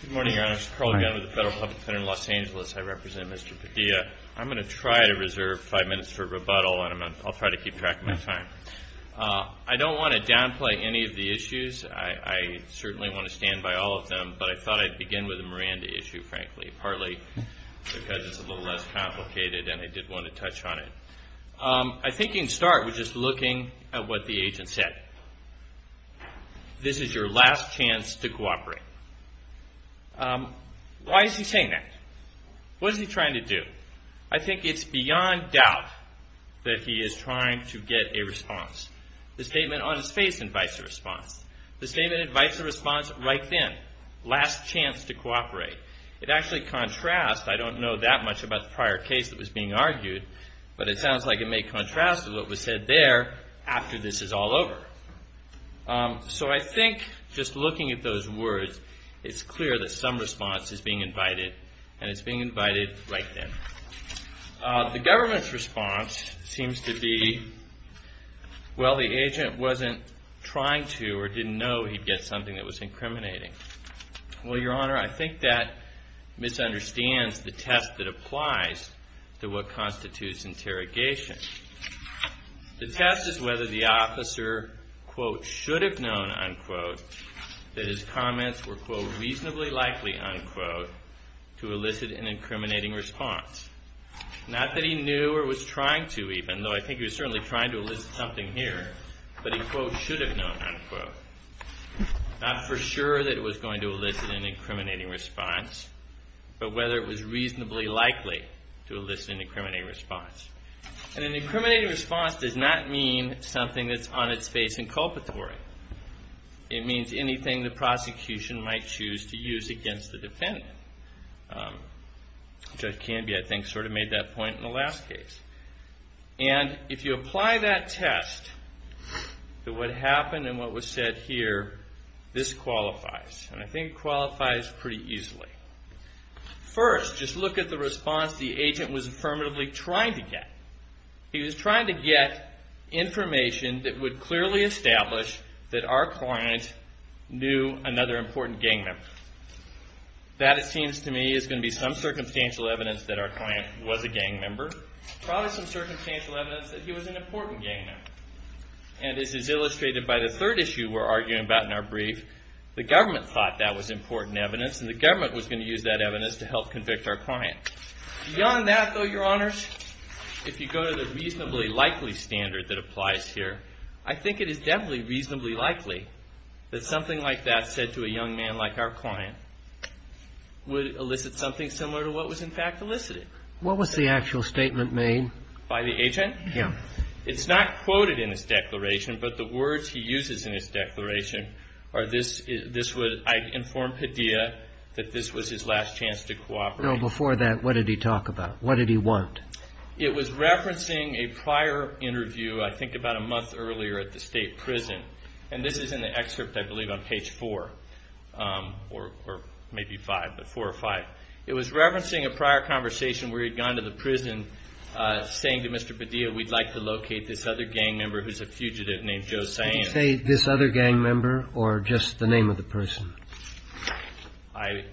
Good morning, your honors. Carl Gunn with the Federal Public Center in Los Angeles. I represent Mr. Padilla. I'm going to try to reserve five minutes for rebuttal and I'll try to keep track of my time. I don't want to downplay any of the issues. I certainly want to stand by all of them, but I thought I'd begin with the Miranda issue, frankly, partly because it's a little less complicated and I did want to touch on it. I think you can start with just looking at what the agent said. This is your last chance to cooperate. Why is he saying that? What is he trying to do? I think it's beyond doubt that he is trying to get a response. The statement on his face invites a response. The statement invites a response right then. Last chance to cooperate. It actually contrasts. I don't know that much about the prior case that was being argued, but it sounds like it may contrast with what was said there after this is all over. So I think just looking at those words, it's clear that some response is being invited and it's being invited right then. The government's response seems to be, well, the agent wasn't trying to or didn't know he'd get something that was incriminating. Well, Your Honor, I think that misunderstands the test that applies to what constitutes interrogation. The test is whether the officer, quote, should have known, unquote, that his comments were, quote, reasonably likely, unquote, to elicit an incriminating response. Not that he knew or was trying to even, though I think he was certainly trying to elicit something here, but he, quote, should have known, unquote. Not for sure that it was going to elicit an incriminating response, but whether it was reasonably likely to elicit an incriminating response. An incriminating response does not mean something that's on its face inculpatory. It means anything the prosecution might choose to use against the defendant. Judge Canby, I think, sort of made that point in the last case. And if you apply that test to what happened and what was said here, this qualifies. And I think it qualifies pretty easily. First, just look at the response the agent was affirmatively trying to get. He was trying to get information that would clearly establish that our client knew another important gang member. That, it seems to me, is going to be some circumstantial evidence that our client was a gang member. Probably some circumstantial evidence that he was an important gang member. And this is illustrated by the third issue we're arguing about in our brief. The government thought that was important evidence, and the government was going to use that evidence to help convict our client. Beyond that, though, Your Honors, if you go to the reasonably likely standard that applies here, I think it is definitely reasonably likely that something like that said to a young man like our client would elicit something similar to what was, in fact, elicited. What was the actual statement made? By the agent? Yeah. It's not quoted in his declaration, but the words he uses in his declaration are, I informed Padilla that this was his last chance to cooperate. Now, before that, what did he talk about? What did he want? It was referencing a prior interview, I think about a month earlier, at the state prison. And this is in the excerpt, I believe, on page 4, or maybe 5, but 4 or 5. It was referencing a prior conversation where he'd gone to the prison saying to Mr. Padilla, we'd like to locate this other gang member who's a fugitive named Joe Sands. Did he say this other gang member or just the name of the person? I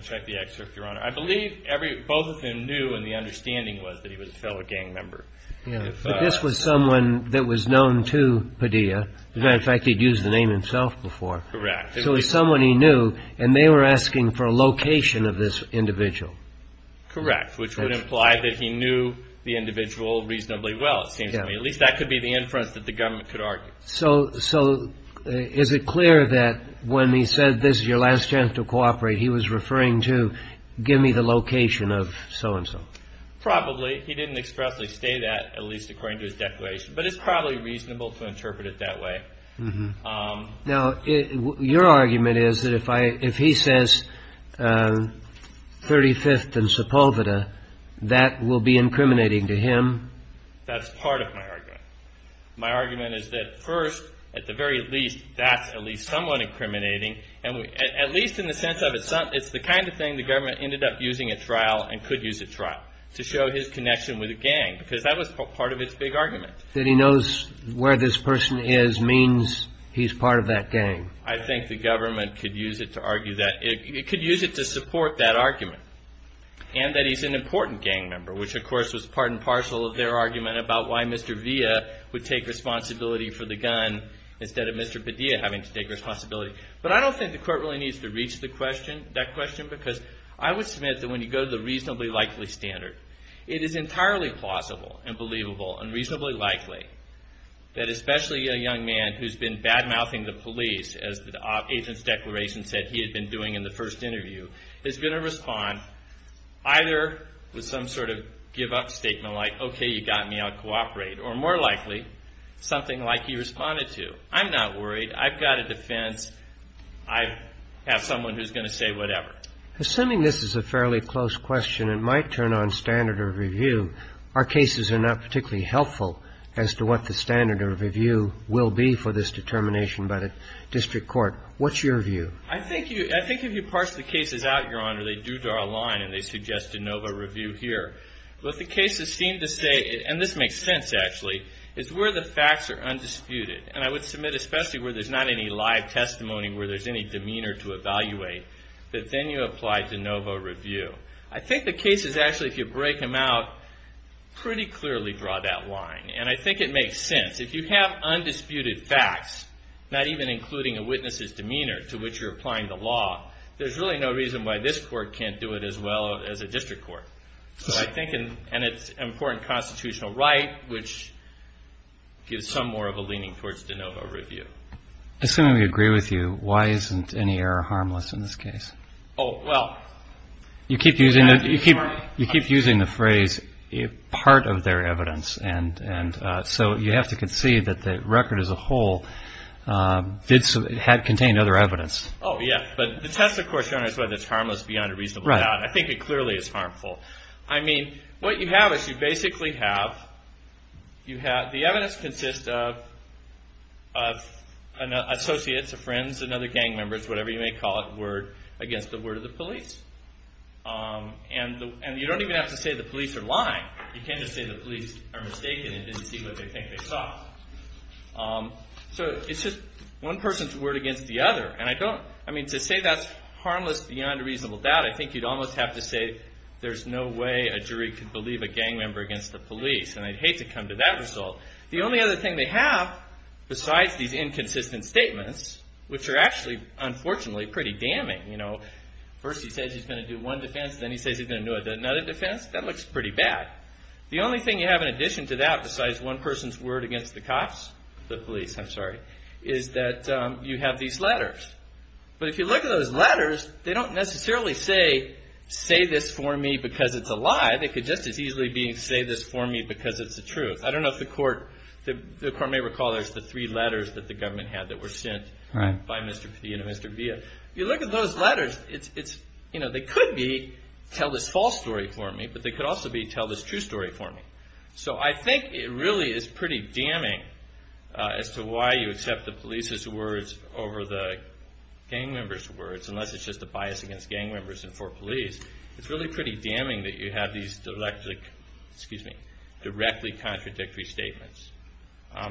checked the excerpt, Your Honor. I believe both of them knew and the understanding was that he was a fellow gang member. But this was someone that was known to Padilla. As a matter of fact, he'd used the name himself before. Correct. So it was someone he knew, and they were asking for a location of this individual. Correct, which would imply that he knew the individual reasonably well, it seems to me. At least that could be the inference that the government could argue. So is it clear that when he said this is your last chance to cooperate, he was referring to give me the location of so-and-so? Probably. He didn't expressly state that, at least according to his declaration. But it's probably reasonable to interpret it that way. Now, your argument is that if he says 35th and Sepulveda, that will be incriminating to him? That's part of my argument. My argument is that first, at the very least, that's at least somewhat incriminating, at least in the sense of it's the kind of thing the government ended up using at trial and could use at trial to show his connection with a gang, because that was part of its big argument. That he knows where this person is means he's part of that gang. I think the government could use it to argue that. It could use it to support that argument, and that he's an important gang member, which of course was part and parcel of their argument about why Mr. Villa would take responsibility for the gun instead of Mr. Padilla having to take responsibility. But I don't think the court really needs to reach that question, because I would submit that when you go to the reasonably likely standard, it is entirely plausible and believable and reasonably likely that especially a young man who's been bad-mouthing the police, as the agent's declaration said he had been doing in the first interview, is going to respond either with some sort of give-up statement like, okay, you got me, I'll cooperate. Or more likely, something like he responded to, I'm not worried, I've got a defense, I have someone who's going to say whatever. Assuming this is a fairly close question, it might turn on standard of review. Our cases are not particularly helpful as to what the standard of review will be for this determination by the district court. What's your view? I think if you parse the cases out, Your Honor, they do draw a line, and they suggest de novo review here. What the cases seem to say, and this makes sense actually, is where the facts are undisputed. And I would submit especially where there's not any live testimony, where there's any demeanor to evaluate, that then you apply de novo review. I think the cases actually, if you break them out, pretty clearly draw that line. And I think it makes sense. If you have undisputed facts, not even including a witness's demeanor to which you're applying the law, there's really no reason why this court can't do it as well as a district court. And it's an important constitutional right, which gives some more of a leaning towards de novo review. Assuming we agree with you, why isn't any error harmless in this case? Oh, well. You keep using the phrase, part of their evidence. And so you have to concede that the record as a whole contained other evidence. Oh, yeah. But the test, of course, Your Honor, is whether it's harmless beyond a reasonable doubt. I think it clearly is harmful. I mean, what you have is you basically have, the evidence consists of associates or friends and other gang members, whatever you may call it, word against the word of the police. And you don't even have to say the police are lying. You can just say the police are mistaken and didn't see what they think they saw. So it's just one person's word against the other. I mean, to say that's harmless beyond a reasonable doubt, I think you'd almost have to say there's no way a jury could believe a gang member against the police. And I'd hate to come to that result. The only other thing they have, besides these inconsistent statements, which are actually, unfortunately, pretty damning. First he says he's going to do one defense, then he says he's going to do another defense. That looks pretty bad. The only thing you have in addition to that besides one person's word against the cops, the police, I'm sorry, is that you have these letters. But if you look at those letters, they don't necessarily say, say this for me because it's a lie. They could just as easily be, say this for me because it's the truth. I don't know if the court may recall there's the three letters that the government had that were sent by Mr. P and Mr. Villa. If you look at those letters, they could be, tell this false story for me, but they could also be, tell this true story for me. So I think it really is pretty damning as to why you accept the police's words over the gang members' words, unless it's just a bias against gang members and for police. It's really pretty damning that you have these directly contradictory statements.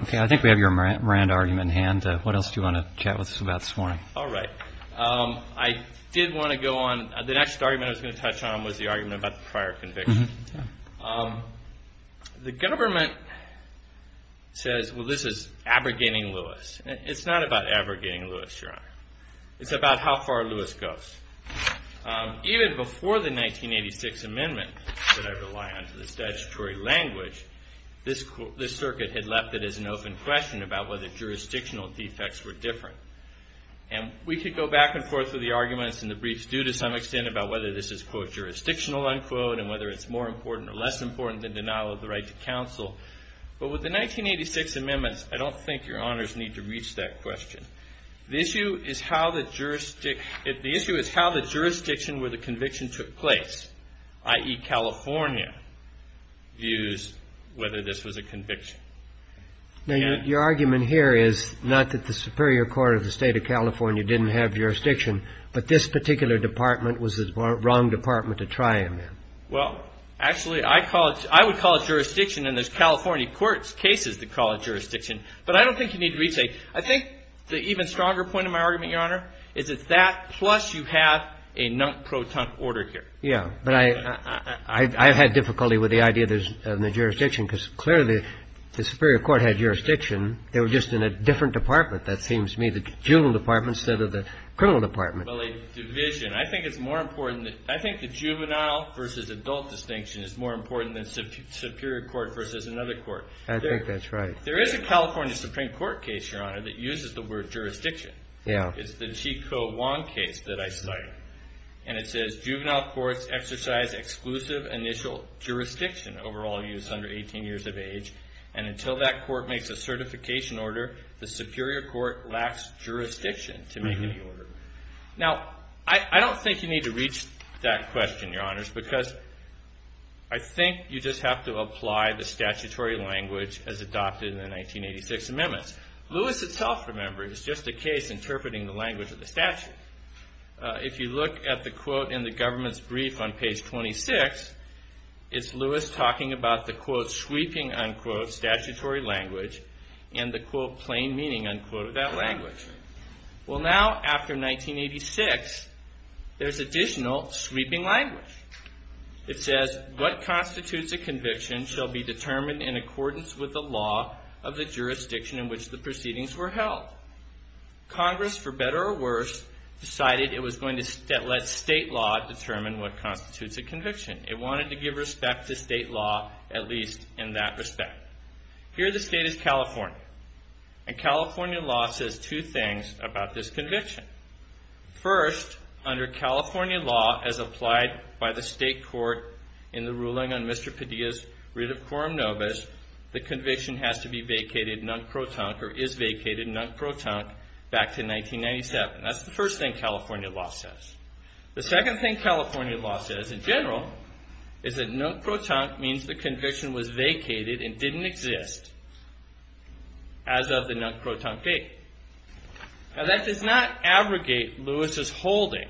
Okay, I think we have your Moran argument in hand. What else do you want to chat with us about this morning? All right. I did want to go on. The next argument I was going to touch on was the argument about the prior conviction. The government says, well, this is abrogating Lewis. It's not about abrogating Lewis, Your Honor. It's about how far Lewis goes. Even before the 1986 amendment that I rely on to this statutory language, this circuit had left it as an open question about whether jurisdictional defects were different. And we could go back and forth with the arguments in the briefs due to some extent about whether this is, quote, jurisdictional, unquote, and whether it's more important or less important than denial of the right to counsel. But with the 1986 amendments, I don't think Your Honors need to reach that question. The issue is how the jurisdiction where the conviction took place, i.e., California, views whether this was a conviction. Now, your argument here is not that the Superior Court of the State of California didn't have jurisdiction, but this particular department was the wrong department to try him in. Well, actually, I call it – I would call it jurisdiction, and there's California courts' cases that call it jurisdiction. But I don't think you need to reach a – I think the even stronger point of my argument, Your Honor, is that that plus you have a non-proton order here. Yeah. But I've had difficulty with the idea there's no jurisdiction because clearly the Superior Court had jurisdiction. They were just in a different department, that seems to me, the juvenile department instead of the criminal department. Well, a division. I think it's more important – I think the juvenile versus adult distinction is more important than superior court versus another court. I think that's right. There is a California Supreme Court case, Your Honor, that uses the word jurisdiction. Yeah. It's the Chi Kuo Wong case that I cite, and it says, Juvenile courts exercise exclusive initial jurisdiction over all youths under 18 years of age, and until that court makes a certification order, the superior court lacks jurisdiction to make any order. Now, I don't think you need to reach that question, Your Honors, because I think you just have to apply the statutory language as adopted in the 1986 amendments. Lewis itself, remember, is just a case interpreting the language of the statute. If you look at the quote in the government's brief on page 26, it's Lewis talking about the, quote, sweeping, unquote, statutory language, and the, quote, plain meaning, unquote, of that language. Well, now after 1986, there's additional sweeping language. It says, What constitutes a conviction shall be determined in accordance with the law of the jurisdiction in which the proceedings were held. Congress, for better or worse, decided it was going to let state law determine what constitutes a conviction. It wanted to give respect to state law, at least in that respect. Here the state is California, and California law says two things about this conviction. First, under California law, as applied by the state court in the ruling on Mr. Padilla's writ of quorum nobis, the conviction has to be vacated nunc pro tonc, or is vacated nunc pro tonc, back to 1997. That's the first thing California law says. The second thing California law says, in general, is that nunc pro tonc means the conviction was vacated and didn't exist as of the nunc pro tonc date. Now that does not abrogate Lewis's holding,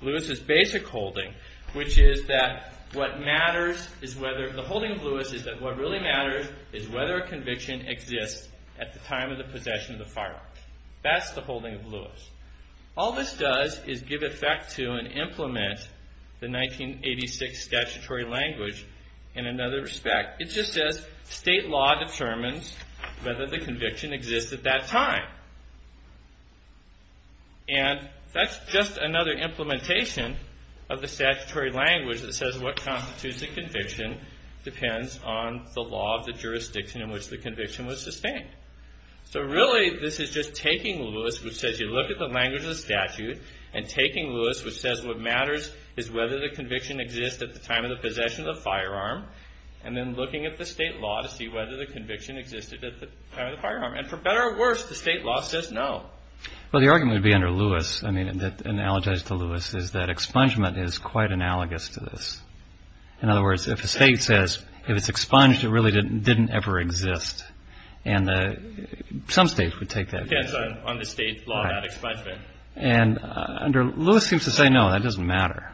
Lewis's basic holding, which is that what matters is whether, the holding of Lewis is that what really matters is whether a conviction exists at the time of the possession of the firearm. That's the holding of Lewis. All this does is give effect to and implement the 1986 statutory language in another respect. It just says state law determines whether the conviction exists at that time. And that's just another implementation of the statutory language that says what constitutes a conviction depends on the law of the jurisdiction in which the conviction was sustained. So really this is just taking Lewis, which says you look at the language of the statute, and taking Lewis, which says what matters is whether the conviction exists at the time of the possession of the firearm, and then looking at the state law to see whether the conviction existed at the time of the firearm. And for better or worse, the state law says no. Well, the argument would be under Lewis, I mean analogized to Lewis, is that expungement is quite analogous to this. In other words, if a state says if it's expunged, it really didn't ever exist. And some states would take that. Yes, on the state law, that expungement. And under Lewis seems to say no, that doesn't matter.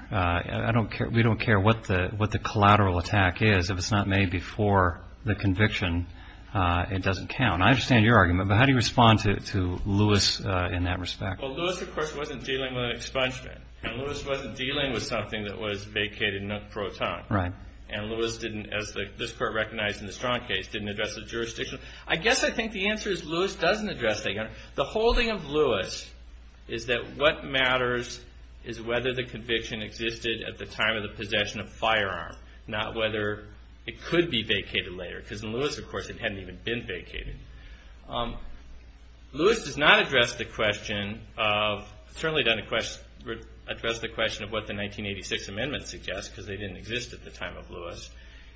We don't care what the collateral attack is. If it's not made before the conviction, it doesn't count. I understand your argument, but how do you respond to Lewis in that respect? Well, Lewis, of course, wasn't dealing with an expungement. And Lewis wasn't dealing with something that was vacated pro ton. And Lewis didn't, as this Court recognized in the Strong case, didn't address the jurisdiction. I guess I think the answer is Lewis doesn't address that. The holding of Lewis is that what matters is whether the conviction existed at the time of the possession of a firearm, not whether it could be vacated later. Because in Lewis, of course, it hadn't even been vacated. Lewis does not address the question of, certainly doesn't address the question of what the 1986 amendment suggests, because they didn't exist at the time of Lewis.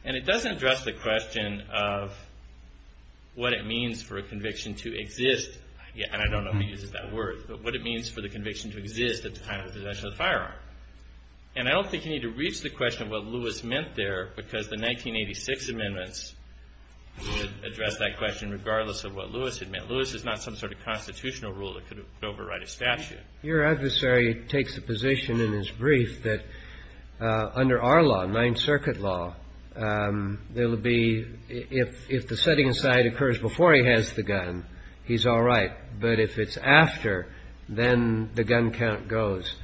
And it doesn't address the question of what it means for a conviction to exist. And I don't know if he uses that word, but what it means for the conviction to exist at the time of the possession of a firearm. And I don't think you need to reach the question of what Lewis meant there, because the 1986 amendments address that question regardless of what Lewis had meant. Lewis is not some sort of constitutional rule that could override a statute. Your adversary takes a position in his brief that under our law, Ninth Circuit law, there will be, if the setting aside occurs before he has the gun, he's all right. But if it's after, then the gun count goes.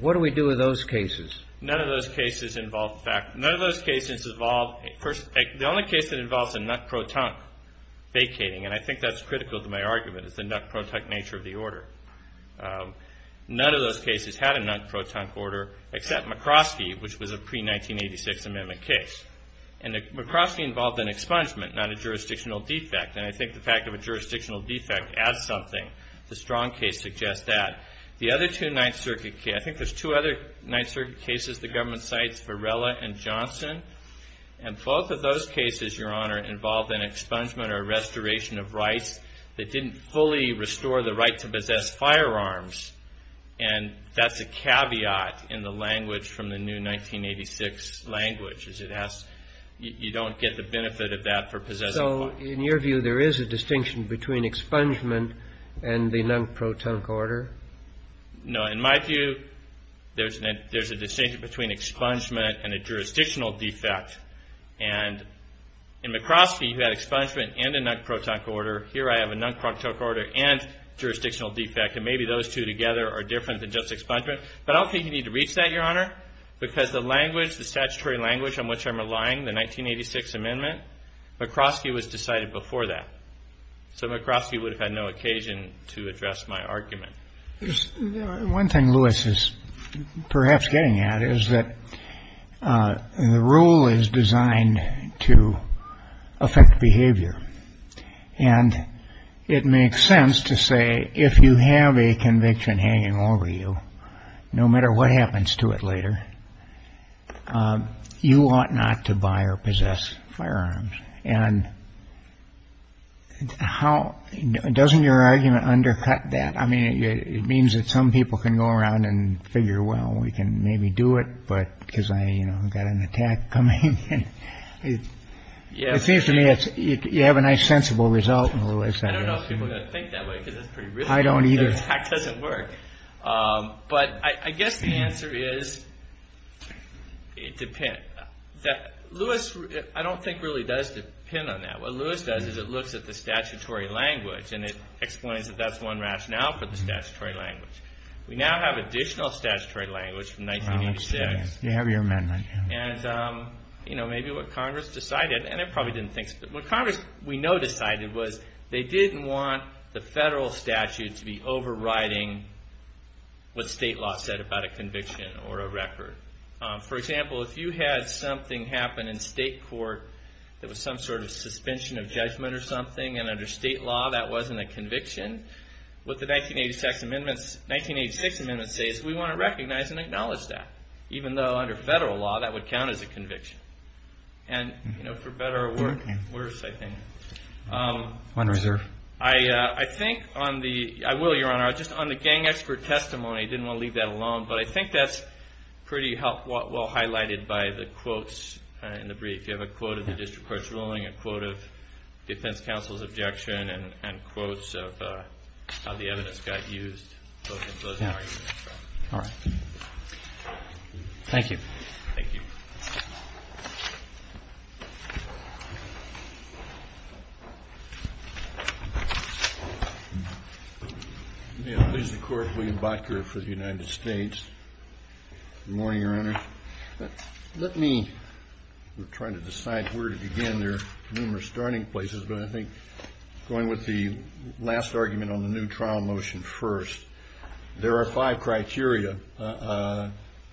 What do we do with those cases? None of those cases involve, none of those cases involve, the only case that involves a nut-pro-tunk vacating, and I think that's critical to my argument, is the nut-pro-tunk nature of the order. None of those cases had a nut-pro-tunk order, except McCroskey, which was a pre-1986 amendment case. And McCroskey involved an expungement, not a jurisdictional defect. And I think the fact of a jurisdictional defect as something, the Strong case suggests that. The other two Ninth Circuit cases, I think there's two other Ninth Circuit cases the government cites, Varela and Johnson. And both of those cases, Your Honor, involved an expungement or restoration of rights that didn't fully restore the right to possess firearms. And that's a caveat in the language from the new 1986 language, is it has, you don't get the benefit of that for possessing firearms. So, in your view, there is a distinction between expungement and the nut-pro-tunk order? No, in my view, there's a distinction between expungement and a jurisdictional defect. And in McCroskey, you had expungement and a nut-pro-tunk order. Here I have a nut-pro-tunk order and jurisdictional defect. And maybe those two together are different than just expungement. But I don't think you need to reach that, Your Honor, because the language, the statutory language on which I'm relying, the 1986 amendment, McCroskey was decided before that. So McCroskey would have had no occasion to address my argument. One thing Lewis is perhaps getting at is that the rule is designed to affect behavior. And it makes sense to say if you have a conviction hanging over you, no matter what happens to it later, you ought not to buy or possess firearms. And doesn't your argument undercut that? I mean, it means that some people can go around and figure, well, we can maybe do it, because I've got an attack coming. It seems to me you have a nice sensible result in Lewis. I don't know if people are going to think that way because it's pretty risky. I don't either. The attack doesn't work. But I guess the answer is it depends. Lewis, I don't think, really does depend on that. What Lewis does is it looks at the statutory language and it explains that that's one rationale for the statutory language. We now have additional statutory language from 1986. You have your amendment. Maybe what Congress decided, and they probably didn't think so, but what Congress, we know, decided was they didn't want the federal statute to be overriding what state law said about a conviction or a record. For example, if you had something happen in state court that was some sort of suspension of judgment or something, and under state law that wasn't a conviction, what the 1986 amendments say is we want to recognize and acknowledge that. Even though under federal law that would count as a conviction. And for better or worse, I think. One reserve. I think on the – I will, Your Honor. Just on the gang expert testimony, I didn't want to leave that alone, but I think that's pretty well highlighted by the quotes in the brief. You have a quote of the district court's ruling, a quote of defense counsel's objection, and quotes of how the evidence got used. All right. Thank you. Thank you. May it please the Court. William Botger for the United States. Good morning, Your Honor. Let me – we're trying to decide where to begin. There are numerous starting places, but I think going with the last argument on the new trial motion first, there are five criteria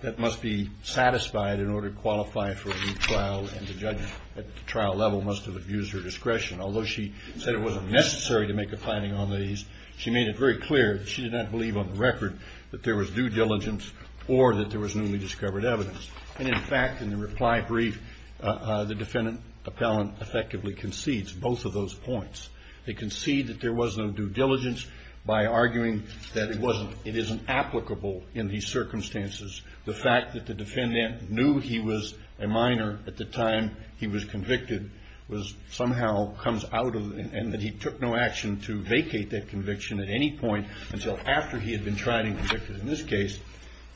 that must be satisfied in order to qualify for a new trial and the judge at the trial level must have abused her discretion. Although she said it wasn't necessary to make a finding on these, she made it very clear that she did not believe on the record that there was due diligence or that there was newly discovered evidence. And, in fact, in the reply brief, the defendant appellant effectively concedes. Both of those points. They concede that there was no due diligence by arguing that it wasn't – it isn't applicable in these circumstances. The fact that the defendant knew he was a minor at the time he was convicted was somehow comes out of – and that he took no action to vacate that conviction at any point until after he had been tried and convicted in this case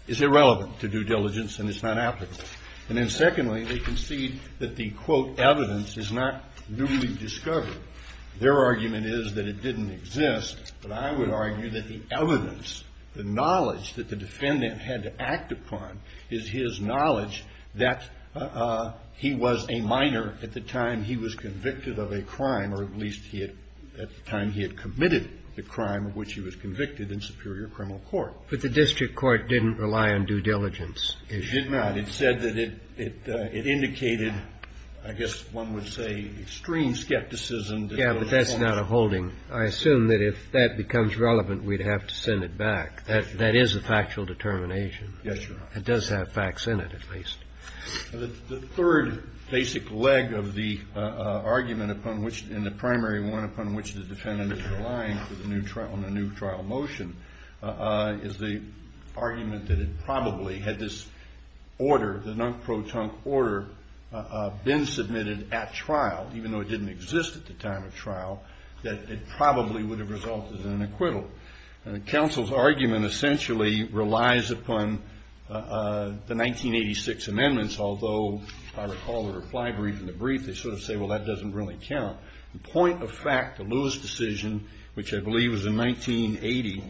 is irrelevant to due diligence and it's not applicable. And then secondly, they concede that the, quote, evidence is not newly discovered. Their argument is that it didn't exist, but I would argue that the evidence, the knowledge that the defendant had to act upon, is his knowledge that he was a minor at the time he was convicted of a crime or at least he had – at the time he had committed the crime of which he was convicted in superior criminal court. But the district court didn't rely on due diligence. It did not. It said that it indicated, I guess one would say, extreme skepticism. Yeah, but that's not a holding. I assume that if that becomes relevant, we'd have to send it back. That is a factual determination. Yes, Your Honor. It does have facts in it, at least. The third basic leg of the argument upon which – and the primary one upon which the defendant is relying on a new trial motion is the argument that it probably had this order, the non-pro-tunc order been submitted at trial, even though it didn't exist at the time of trial, that it probably would have resulted in an acquittal. And the counsel's argument essentially relies upon the 1986 amendments, although I recall the reply brief in the brief. They sort of say, well, that doesn't really count. The point of fact, the Lewis decision, which I believe was in 1980,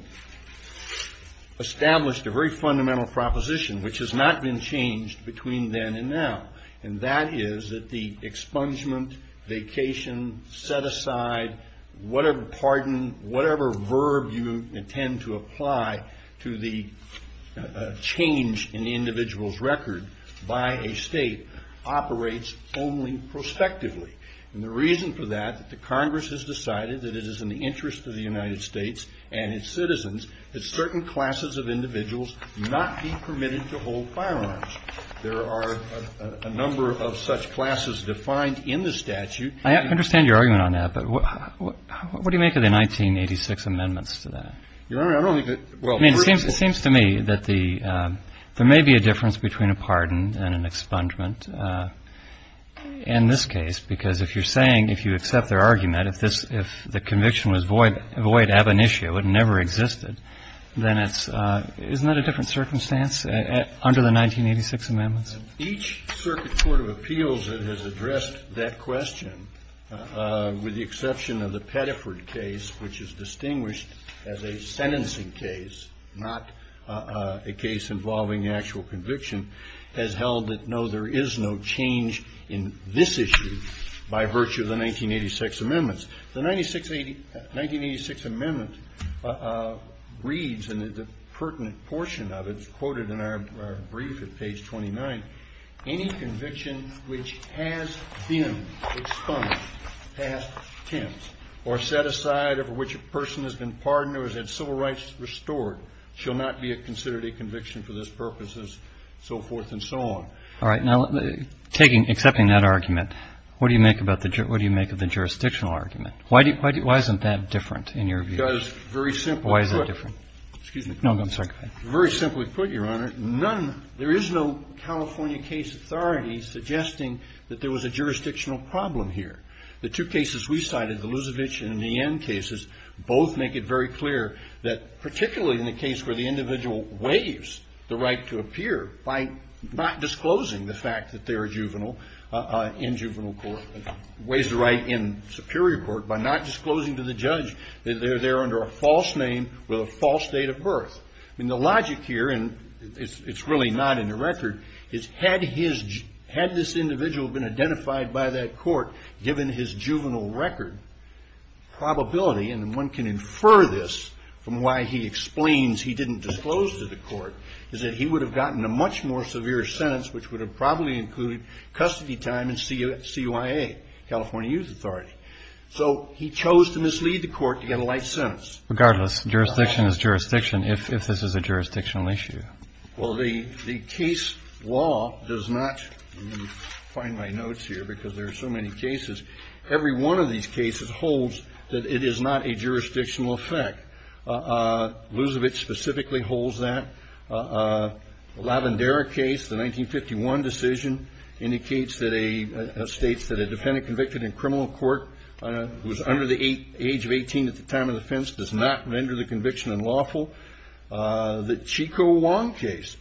established a very fundamental proposition, which has not been changed between then and now, and that is that the expungement, vacation, set aside, whatever pardon, whatever verb you intend to apply to the change in the individual's record by a state, operates only prospectively. And the reason for that, that the Congress has decided that it is in the interest of the United States and its citizens that certain classes of individuals not be permitted to hold firearms. There are a number of such classes defined in the statute. I understand your argument on that, but what do you make of the 1986 amendments to that? Your Honor, I don't think that – well, first of all – I mean, it seems to me that the – there may be a difference between a pardon and an expungement in this case because if you're saying, if you accept their argument, if this – if the conviction was void ab initio, it never existed, then it's – isn't that a different circumstance under the 1986 amendments? Each circuit court of appeals that has addressed that question, with the exception of the Pettiford case, which is distinguished as a sentencing case, not a case involving actual conviction, has held that, no, there is no change in this issue by virtue of the 1986 amendments. The 1986 amendment reads, and there's a pertinent portion of it, it's quoted in our brief at page 29, any conviction which has been expunged past tense or set aside of which a person has been pardoned or has had civil rights restored shall not be considered a conviction for this purpose, and so forth and so on. All right. Now, taking – accepting that argument, what do you make about the – what do you make of the jurisdictional argument? Why do you – why isn't that different in your view? Because, very simply put – Why is it different? Excuse me. No, I'm sorry. Very simply put, Your Honor, none – there is no California case authority suggesting that there was a jurisdictional problem here. The two cases we cited, the Lusovich and the Enn cases, both make it very clear that particularly in the case where the individual waives the right to appear by not disclosing the fact that they're a juvenile in juvenile court, waives the right in superior court by not disclosing to the judge that they're there under a false name with a false date of birth. I mean, the logic here, and it's really not in the record, is had his – had this individual been identified by that court given his juvenile record, the probability, and one can infer this from why he explains he didn't disclose to the court, is that he would have gotten a much more severe sentence, which would have probably included custody time in CYA, California Youth Authority. So he chose to mislead the court to get a light sentence. Regardless, jurisdiction is jurisdiction if this is a jurisdictional issue. Well, the case law does not – let me find my notes here because there are so many cases. Every one of these cases holds that it is not a jurisdictional effect. Luzovic specifically holds that. The Lavendera case, the 1951 decision, indicates that a – states that a defendant convicted in criminal court who is under the age of 18 at the time of the offense does not render the conviction unlawful. The Chico Wong case,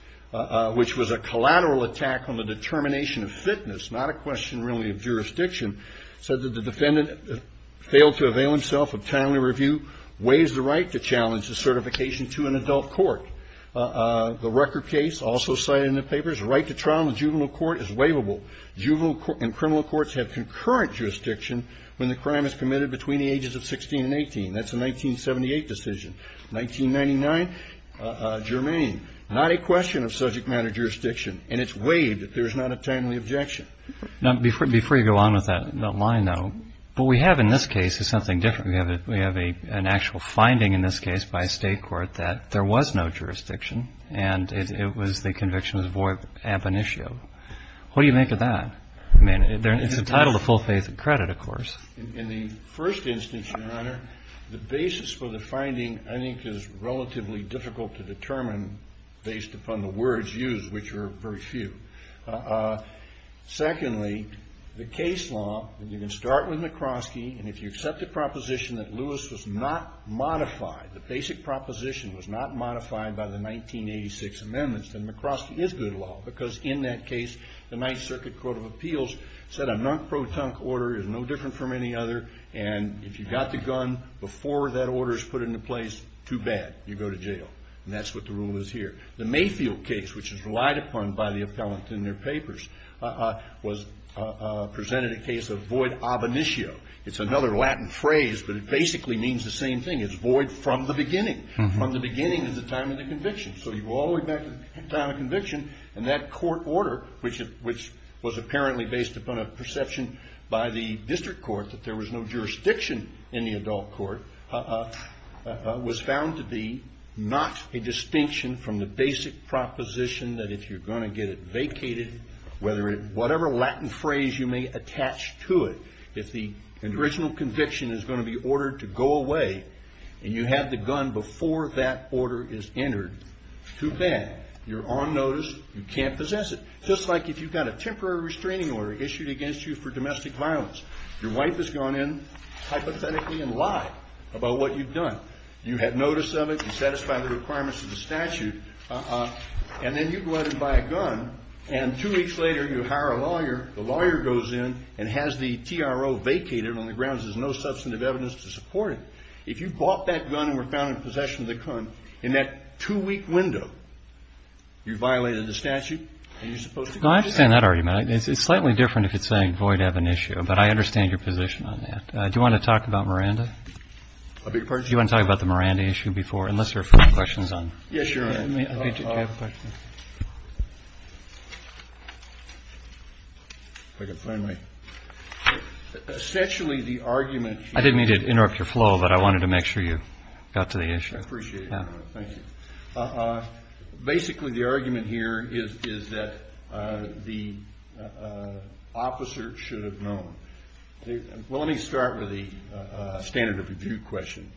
which was a collateral attack on the determination of fitness, not a question really of jurisdiction, said that the defendant failed to avail himself of timely review, waives the right to challenge the certification to an adult court. The Rucker case also cited in the papers, right to trial in the juvenile court is waivable. Juvenile and criminal courts have concurrent jurisdiction when the crime is committed between the ages of 16 and 18. That's a 1978 decision. 1999, germane, not a question of subject matter jurisdiction, and it's waived if there is not a timely objection. Now, before you go on with that line, though, what we have in this case is something different. We have an actual finding in this case by a state court that there was no jurisdiction and it was the conviction was void ab initio. What do you make of that? I mean, it's entitled to full faith and credit, of course. In the first instance, Your Honor, the basis for the finding I think is relatively difficult to determine based upon the words used, which are very few. Secondly, the case law, and you can start with McCroskey, and if you accept the proposition that Lewis was not modified, the basic proposition was not modified by the 1986 amendments, then McCroskey is good law because in that case, the Ninth Circuit Court of Appeals said a nunk-pro-tunk order is no different from any other, and if you got the gun before that order is put into place, too bad. You go to jail, and that's what the rule is here. The Mayfield case, which is relied upon by the appellant in their papers, presented a case of void ab initio. It's another Latin phrase, but it basically means the same thing. It's void from the beginning. From the beginning is the time of the conviction. So you go all the way back to the time of conviction, and that court order, which was apparently based upon a perception by the district court that there was no jurisdiction in the adult court, was found to be not a distinction from the basic proposition that if you're going to get it vacated, whatever Latin phrase you may attach to it, if the original conviction is going to be ordered to go away and you have the gun before that order is entered, too bad. You're on notice. You can't possess it. Just like if you've got a temporary restraining order issued against you for domestic violence. Your wife has gone in hypothetically and lied about what you've done. You had notice of it. You satisfied the requirements of the statute. And then you go out and buy a gun, and two weeks later you hire a lawyer. The lawyer goes in and has the TRO vacated on the grounds there's no substantive evidence to support it. If you bought that gun and were found in possession of the gun, in that two-week window, you violated the statute, and you're supposed to go to jail. I understand that argument. It's slightly different if it's saying void ab initio. But I understand your position on that. Do you want to talk about Miranda? I beg your pardon? Do you want to talk about the Miranda issue before, unless there are further questions on it? Yes, sure. Do you have a question? If I can find my... Essentially, the argument... I didn't mean to interrupt your flow, but I wanted to make sure you got to the issue. I appreciate it. Thank you. Basically, the argument here is that the officer should have known. Well, let me start with the standard of review question.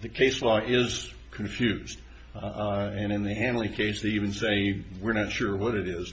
The case law is confused. And in the Hanley case, they even say we're not sure what it is.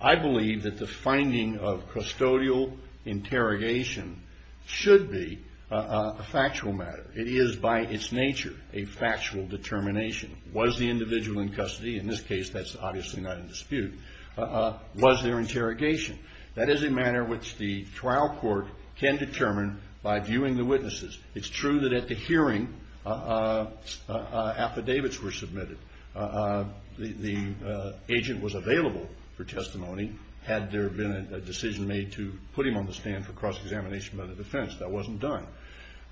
I believe that the finding of custodial interrogation should be a factual matter. It is, by its nature, a factual determination. Was the individual in custody? In this case, that's obviously not in dispute. Was there interrogation? That is a matter which the trial court can determine by viewing the witnesses. It's true that at the hearing, affidavits were submitted. The agent was available for testimony had there been a decision made to put him on the stand for cross-examination by the defense. That wasn't done.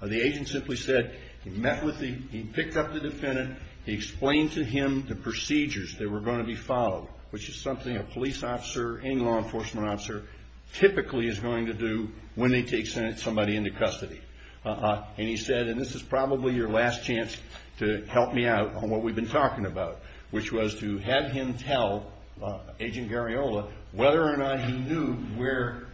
The agent simply said he picked up the defendant. He explained to him the procedures that were going to be followed, which is something a police officer and law enforcement officer typically is going to do when they take somebody into custody. And he said, and this is probably your last chance to help me out on what we've been talking about, which was to have him tell Agent Gariola whether or not he knew where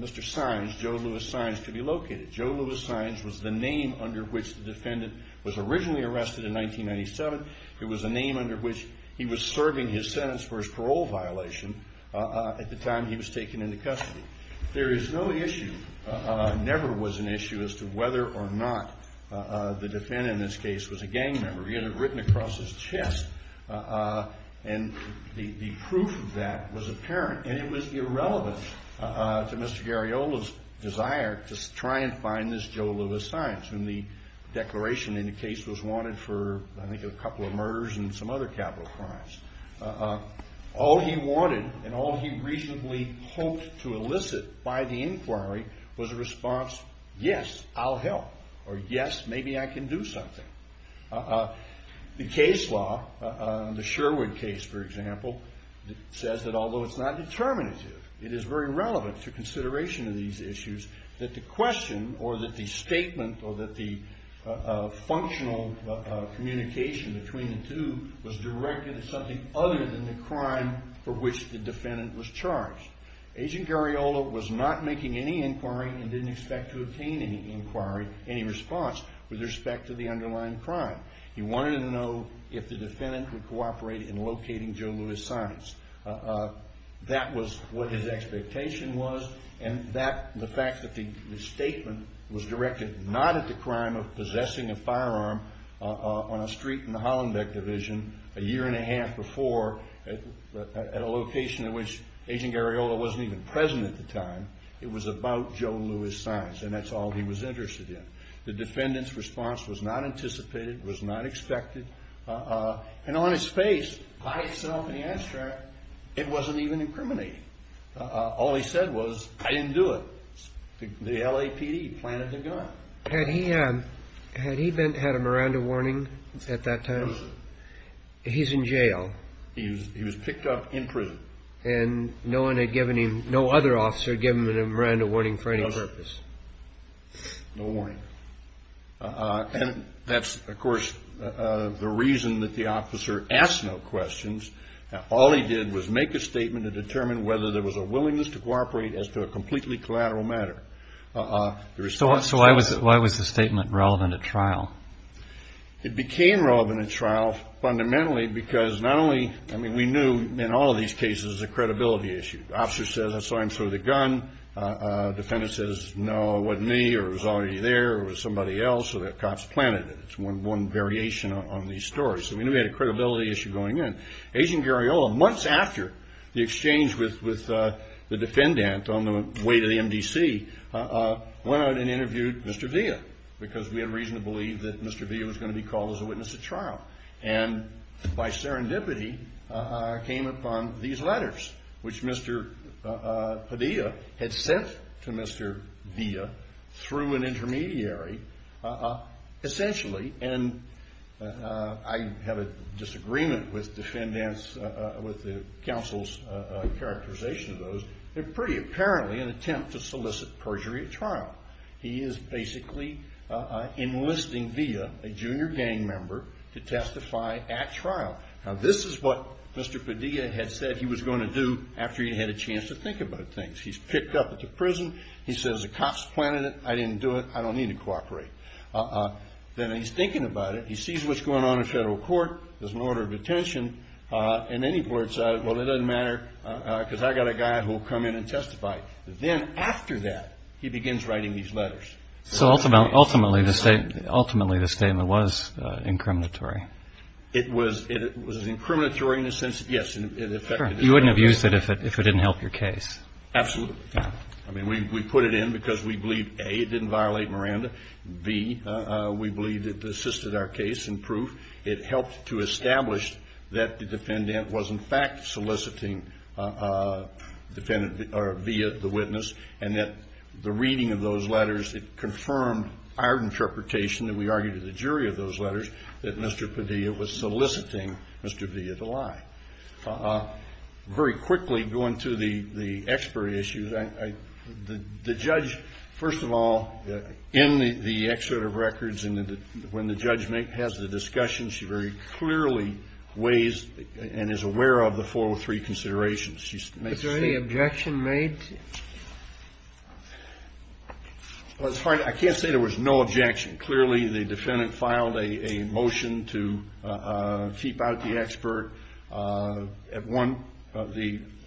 Mr. Sines, Joe Louis Sines, could be located. Joe Louis Sines was the name under which the defendant was originally arrested in 1997. It was the name under which he was serving his sentence for his parole violation at the time he was taken into custody. There is no issue, never was an issue, as to whether or not the defendant in this case was a gang member. He had it written across his chest, and the proof of that was apparent, and it was irrelevant to Mr. Gariola's desire to try and find this Joe Louis Sines, whom the declaration in the case was wanted for, I think, a couple of murders and some other capital crimes. All he wanted and all he reasonably hoped to elicit by the inquiry was a response, yes, I'll help, or yes, maybe I can do something. The case law, the Sherwood case, for example, says that although it's not determinative, it is very relevant to consideration of these issues that the question or that the statement or that the functional communication between the two was directed at something other than the crime for which the defendant was charged. Agent Gariola was not making any inquiry and didn't expect to obtain any inquiry, any response, with respect to the underlying crime. He wanted to know if the defendant would cooperate in locating Joe Louis Sines. That was what his expectation was, and the fact that the statement was directed not at the crime of possessing a firearm on a street in the Hollenbeck division a year and a half before at a location in which Agent Gariola wasn't even present at the time, it was about Joe Louis Sines, and that's all he was interested in. The defendant's response was not anticipated, was not expected, and on his face, by himself in the abstract, it wasn't even incriminating. All he said was, I didn't do it. The LAPD planted the gun. Had he had a Miranda warning at that time? No, sir. He's in jail. He was picked up in prison. And no other officer had given him a Miranda warning for any purpose? No warning. And that's, of course, the reason that the officer asked no questions. All he did was make a statement to determine whether there was a willingness to cooperate as to a completely collateral matter. So why was the statement relevant at trial? It became relevant at trial fundamentally because not only, I mean, we knew in all of these cases it was a credibility issue. The officer says, I saw him throw the gun. The defendant says, no, it wasn't me, or it was already there, or it was somebody else, or the cops planted it. It's one variation on these stories. So we knew we had a credibility issue going in. Agent Gariola, months after the exchange with the defendant on the way to the MDC, went out and interviewed Mr. Villa, because we had reason to believe that Mr. Villa was going to be called as a witness at trial. And by serendipity came upon these letters, which Mr. Padilla had sent to Mr. Villa through an intermediary, essentially. And I have a disagreement with the counsel's characterization of those. They're pretty apparently an attempt to solicit perjury at trial. He is basically enlisting Villa, a junior gang member, to testify at trial. Now this is what Mr. Padilla had said he was going to do after he had a chance to think about things. He's picked up at the prison. He says, the cops planted it. I didn't do it. I don't need to cooperate. Then he's thinking about it. He sees what's going on in federal court. There's an order of attention. And then he blurts out, well, it doesn't matter, because I've got a guy who will come in and testify. Then after that, he begins writing these letters. So ultimately, the statement was incriminatory. It was. It was incriminatory in the sense that, yes, it affected his credibility. Sure. You wouldn't have used it if it didn't help your case. Absolutely. Yeah. I mean, we put it in because we believe, A, it didn't violate Miranda. B, we believe it assisted our case in proof. It helped to establish that the defendant was, in fact, soliciting defendant or via the witness, and that the reading of those letters, it confirmed our interpretation that we argued to the jury of those letters that Mr. Padilla was soliciting Mr. Padilla to lie. Very quickly, going through the expiry issues, the judge, first of all, in the Excerpt of Records, when the judge has the discussion, she very clearly weighs and is aware of the 403 considerations. Is there any objection made? Well, it's hard. I can't say there was no objection. Clearly, the defendant filed a motion to keep out the expert.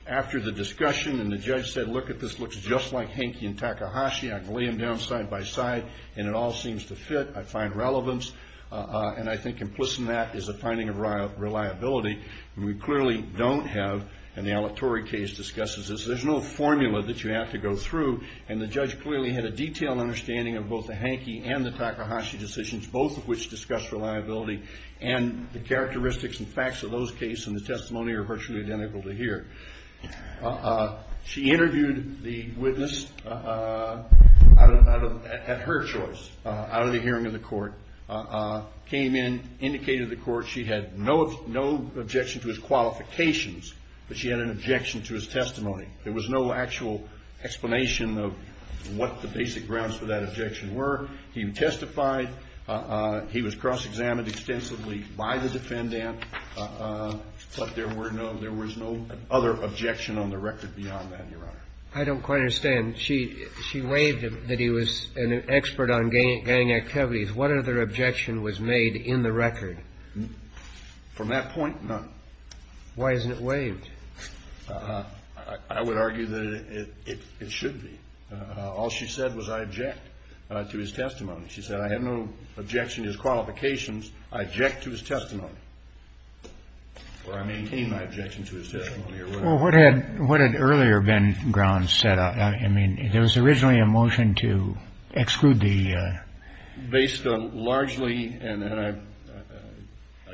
After the discussion and the judge said, look, this looks just like Henke and Takahashi. I can lay them down side by side, and it all seems to fit. I find relevance, and I think implicit in that is a finding of reliability. We clearly don't have, and the Alec Torrey case discusses this, there's no formula that you have to go through, and the judge clearly had a detailed understanding of both the Henke and the Takahashi decisions, both of which discussed reliability, and the characteristics and facts of those cases and the testimony are virtually identical to here. She interviewed the witness at her choice out of the hearing of the court, came in, indicated to the court she had no objection to his qualifications, but she had an objection to his testimony. There was no actual explanation of what the basic grounds for that objection were. He testified. He was cross-examined extensively by the defendant, but there was no other objection on the record beyond that, Your Honor. I don't quite understand. She waived that he was an expert on gang activities. What other objection was made in the record? From that point, none. Why isn't it waived? I would argue that it should be. All she said was I object to his testimony. She said I have no objection to his qualifications. I object to his testimony. Or I maintain my objection to his testimony. What had earlier been grounds set out? I mean, there was originally a motion to exclude the... Based largely, and I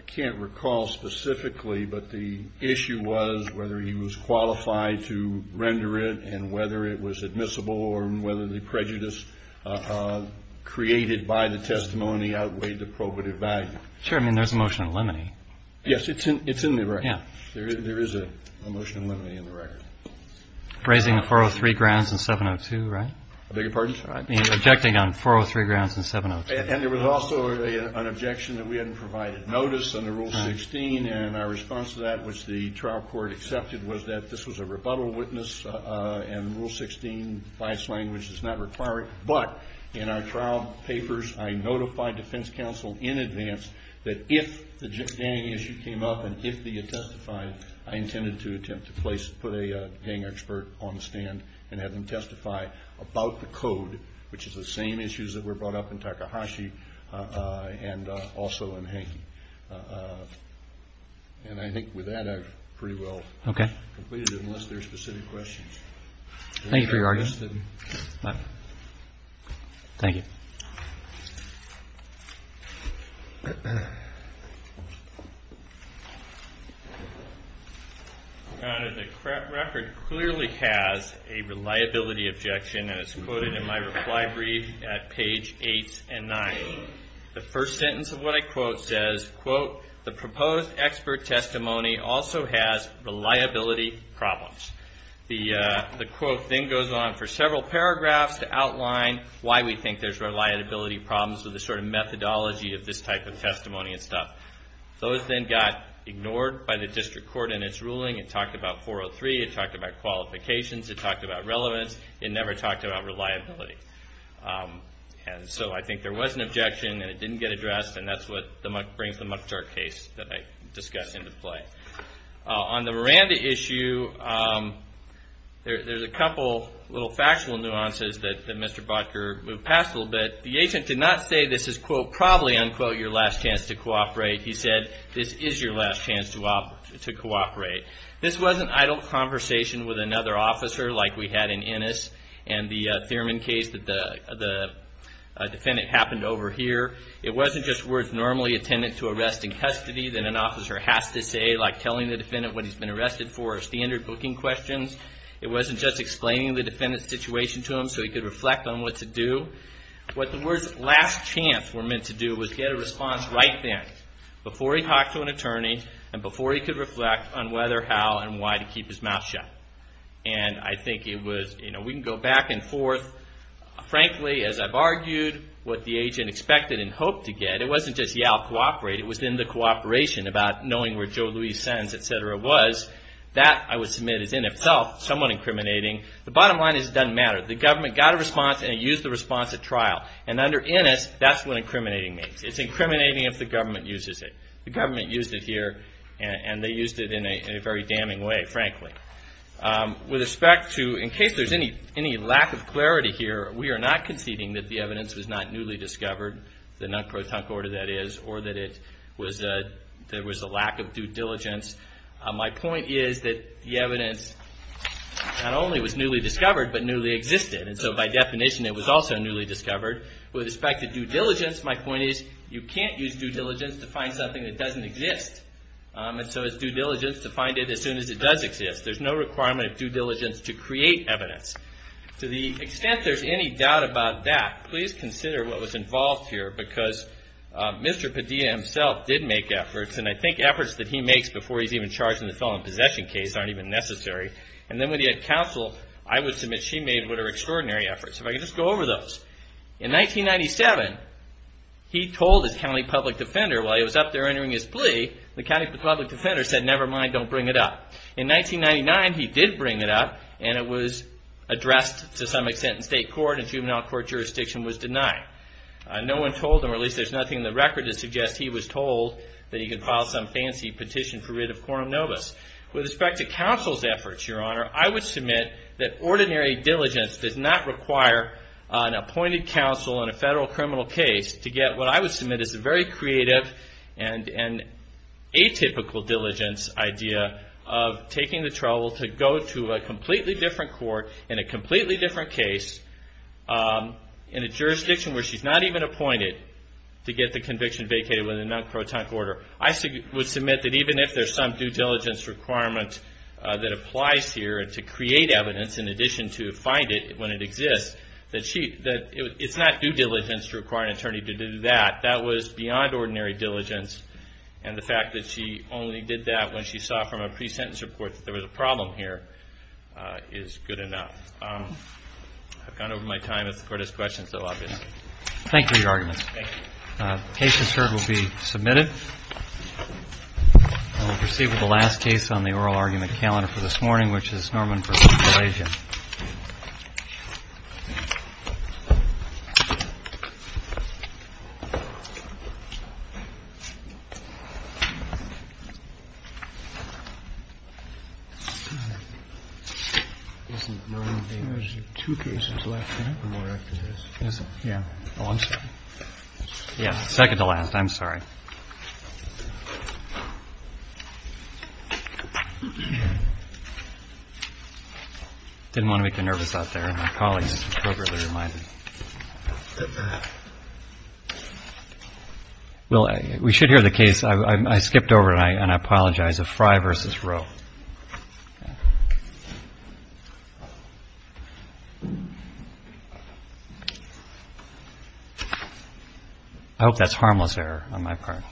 can't recall specifically, but the issue was whether he was qualified to render it and whether it was admissible or whether the prejudice created by the testimony outweighed the probative value. Sure. I mean, there's a motion to eliminate. Yes, it's in there, right? Yeah. There is a motion to eliminate in the record. Raising the 403 grounds and 702, right? I beg your pardon? I mean, objecting on 403 grounds and 702. And there was also an objection that we hadn't provided notice under Rule 16, and our response to that, which the trial court accepted, was that this was a rebuttal witness and Rule 16, biased language, does not require it. But in our trial papers, I notified defense counsel in advance that if the gang issue came up and if they had testified, I intended to attempt to put a gang expert on the stand and have them testify about the code, which is the same issues that were brought up in Takahashi and also in Hankey. And I think with that, I've pretty well completed it, unless there are specific questions. Thank you for your argument. Thank you. Your Honor, the record clearly has a reliability objection, and it's quoted in my reply brief at page 8 and 9. The first sentence of what I quote says, quote, the proposed expert testimony also has reliability problems. The quote then goes on for several paragraphs to outline why we think there's reliability problems with the sort of methodology of this type of testimony and stuff. Those then got ignored by the district court in its ruling. It talked about 403. It talked about qualifications. It talked about relevance. It never talked about reliability. And so I think there was an objection, and it didn't get addressed, and that's what brings the Mukhtar case that I discussed into play. On the Miranda issue, there's a couple little factual nuances that Mr. Butker moved past a little bit. The agent did not say this is, quote, probably, unquote, your last chance to cooperate. He said this is your last chance to cooperate. This wasn't idle conversation with another officer like we had in Ennis and the Thurman case that the defendant happened over here. It wasn't just words normally attended to arrest and custody that an officer has to say, like telling the defendant what he's been arrested for or standard booking questions. It wasn't just explaining the defendant's situation to him so he could reflect on what to do. What the words last chance were meant to do was get a response right then before he talked to an attorney and before he could reflect on whether, how, and why to keep his mouth shut. And I think it was, you know, we can go back and forth. Frankly, as I've argued, what the agent expected and hoped to get, it wasn't just, yeah, I'll cooperate. It was in the cooperation about knowing where Joe Luis' sentence, et cetera, was. That, I would submit, is in itself somewhat incriminating. The bottom line is it doesn't matter. The government got a response and it used the response at trial. And under Ennis, that's what incriminating means. It's incriminating if the government uses it. The government used it here, and they used it in a very damning way, frankly. With respect to, in case there's any lack of clarity here, we are not conceding that the evidence was not newly discovered, the non-protunct order that is, or that there was a lack of due diligence. My point is that the evidence not only was newly discovered, but newly existed. And so by definition, it was also newly discovered. With respect to due diligence, my point is you can't use due diligence to find something that doesn't exist. And so it's due diligence to find it as soon as it does exist. There's no requirement of due diligence to create evidence. To the extent there's any doubt about that, please consider what was involved here because Mr. Padilla himself did make efforts, and I think efforts that he makes before he's even charged in the felon possession case aren't even necessary. And then when he had counsel, I would submit she made what are extraordinary efforts. If I could just go over those. In 1997, he told his county public defender while he was up there entering his plea, the county public defender said, never mind, don't bring it up. In 1999, he did bring it up, and it was addressed to some extent in state court and juvenile court jurisdiction was denied. No one told him, or at least there's nothing in the record to suggest he was told that he could file some fancy petition for writ of quorum nobis. With respect to counsel's efforts, Your Honor, I would submit that ordinary diligence does not require an appointed counsel in a federal criminal case to get what I would submit is a very creative and atypical diligence idea of taking the trouble to go to a completely different court in a completely different case in a jurisdiction where she's not even appointed to get the conviction vacated with a non-crotonic order. I would submit that even if there's some due diligence requirement that applies here to create evidence in addition to find it when it exists, that it's not due diligence to require an attorney to do that. That was beyond ordinary diligence, and the fact that she only did that when she saw from a pre-sentence report that there was a problem here is good enough. I've gone over my time. If the Court has questions, I'll open it. Thank you for your arguments. Thank you. The case, as heard, will be submitted. We'll proceed with the last case on the oral argument calendar for this morning, which is Norman v. Galazian. Isn't Norman v. Galazian two cases left now or more after this? Isn't it? Yeah. Oh, I'm sorry. Yeah, second to last. I'm sorry. Didn't want to make you nervous out there. My colleagues appropriately reminded. Well, we should hear the case. I skipped over it, and I apologize. A Frye v. Roe. I hope that's harmless error on my part.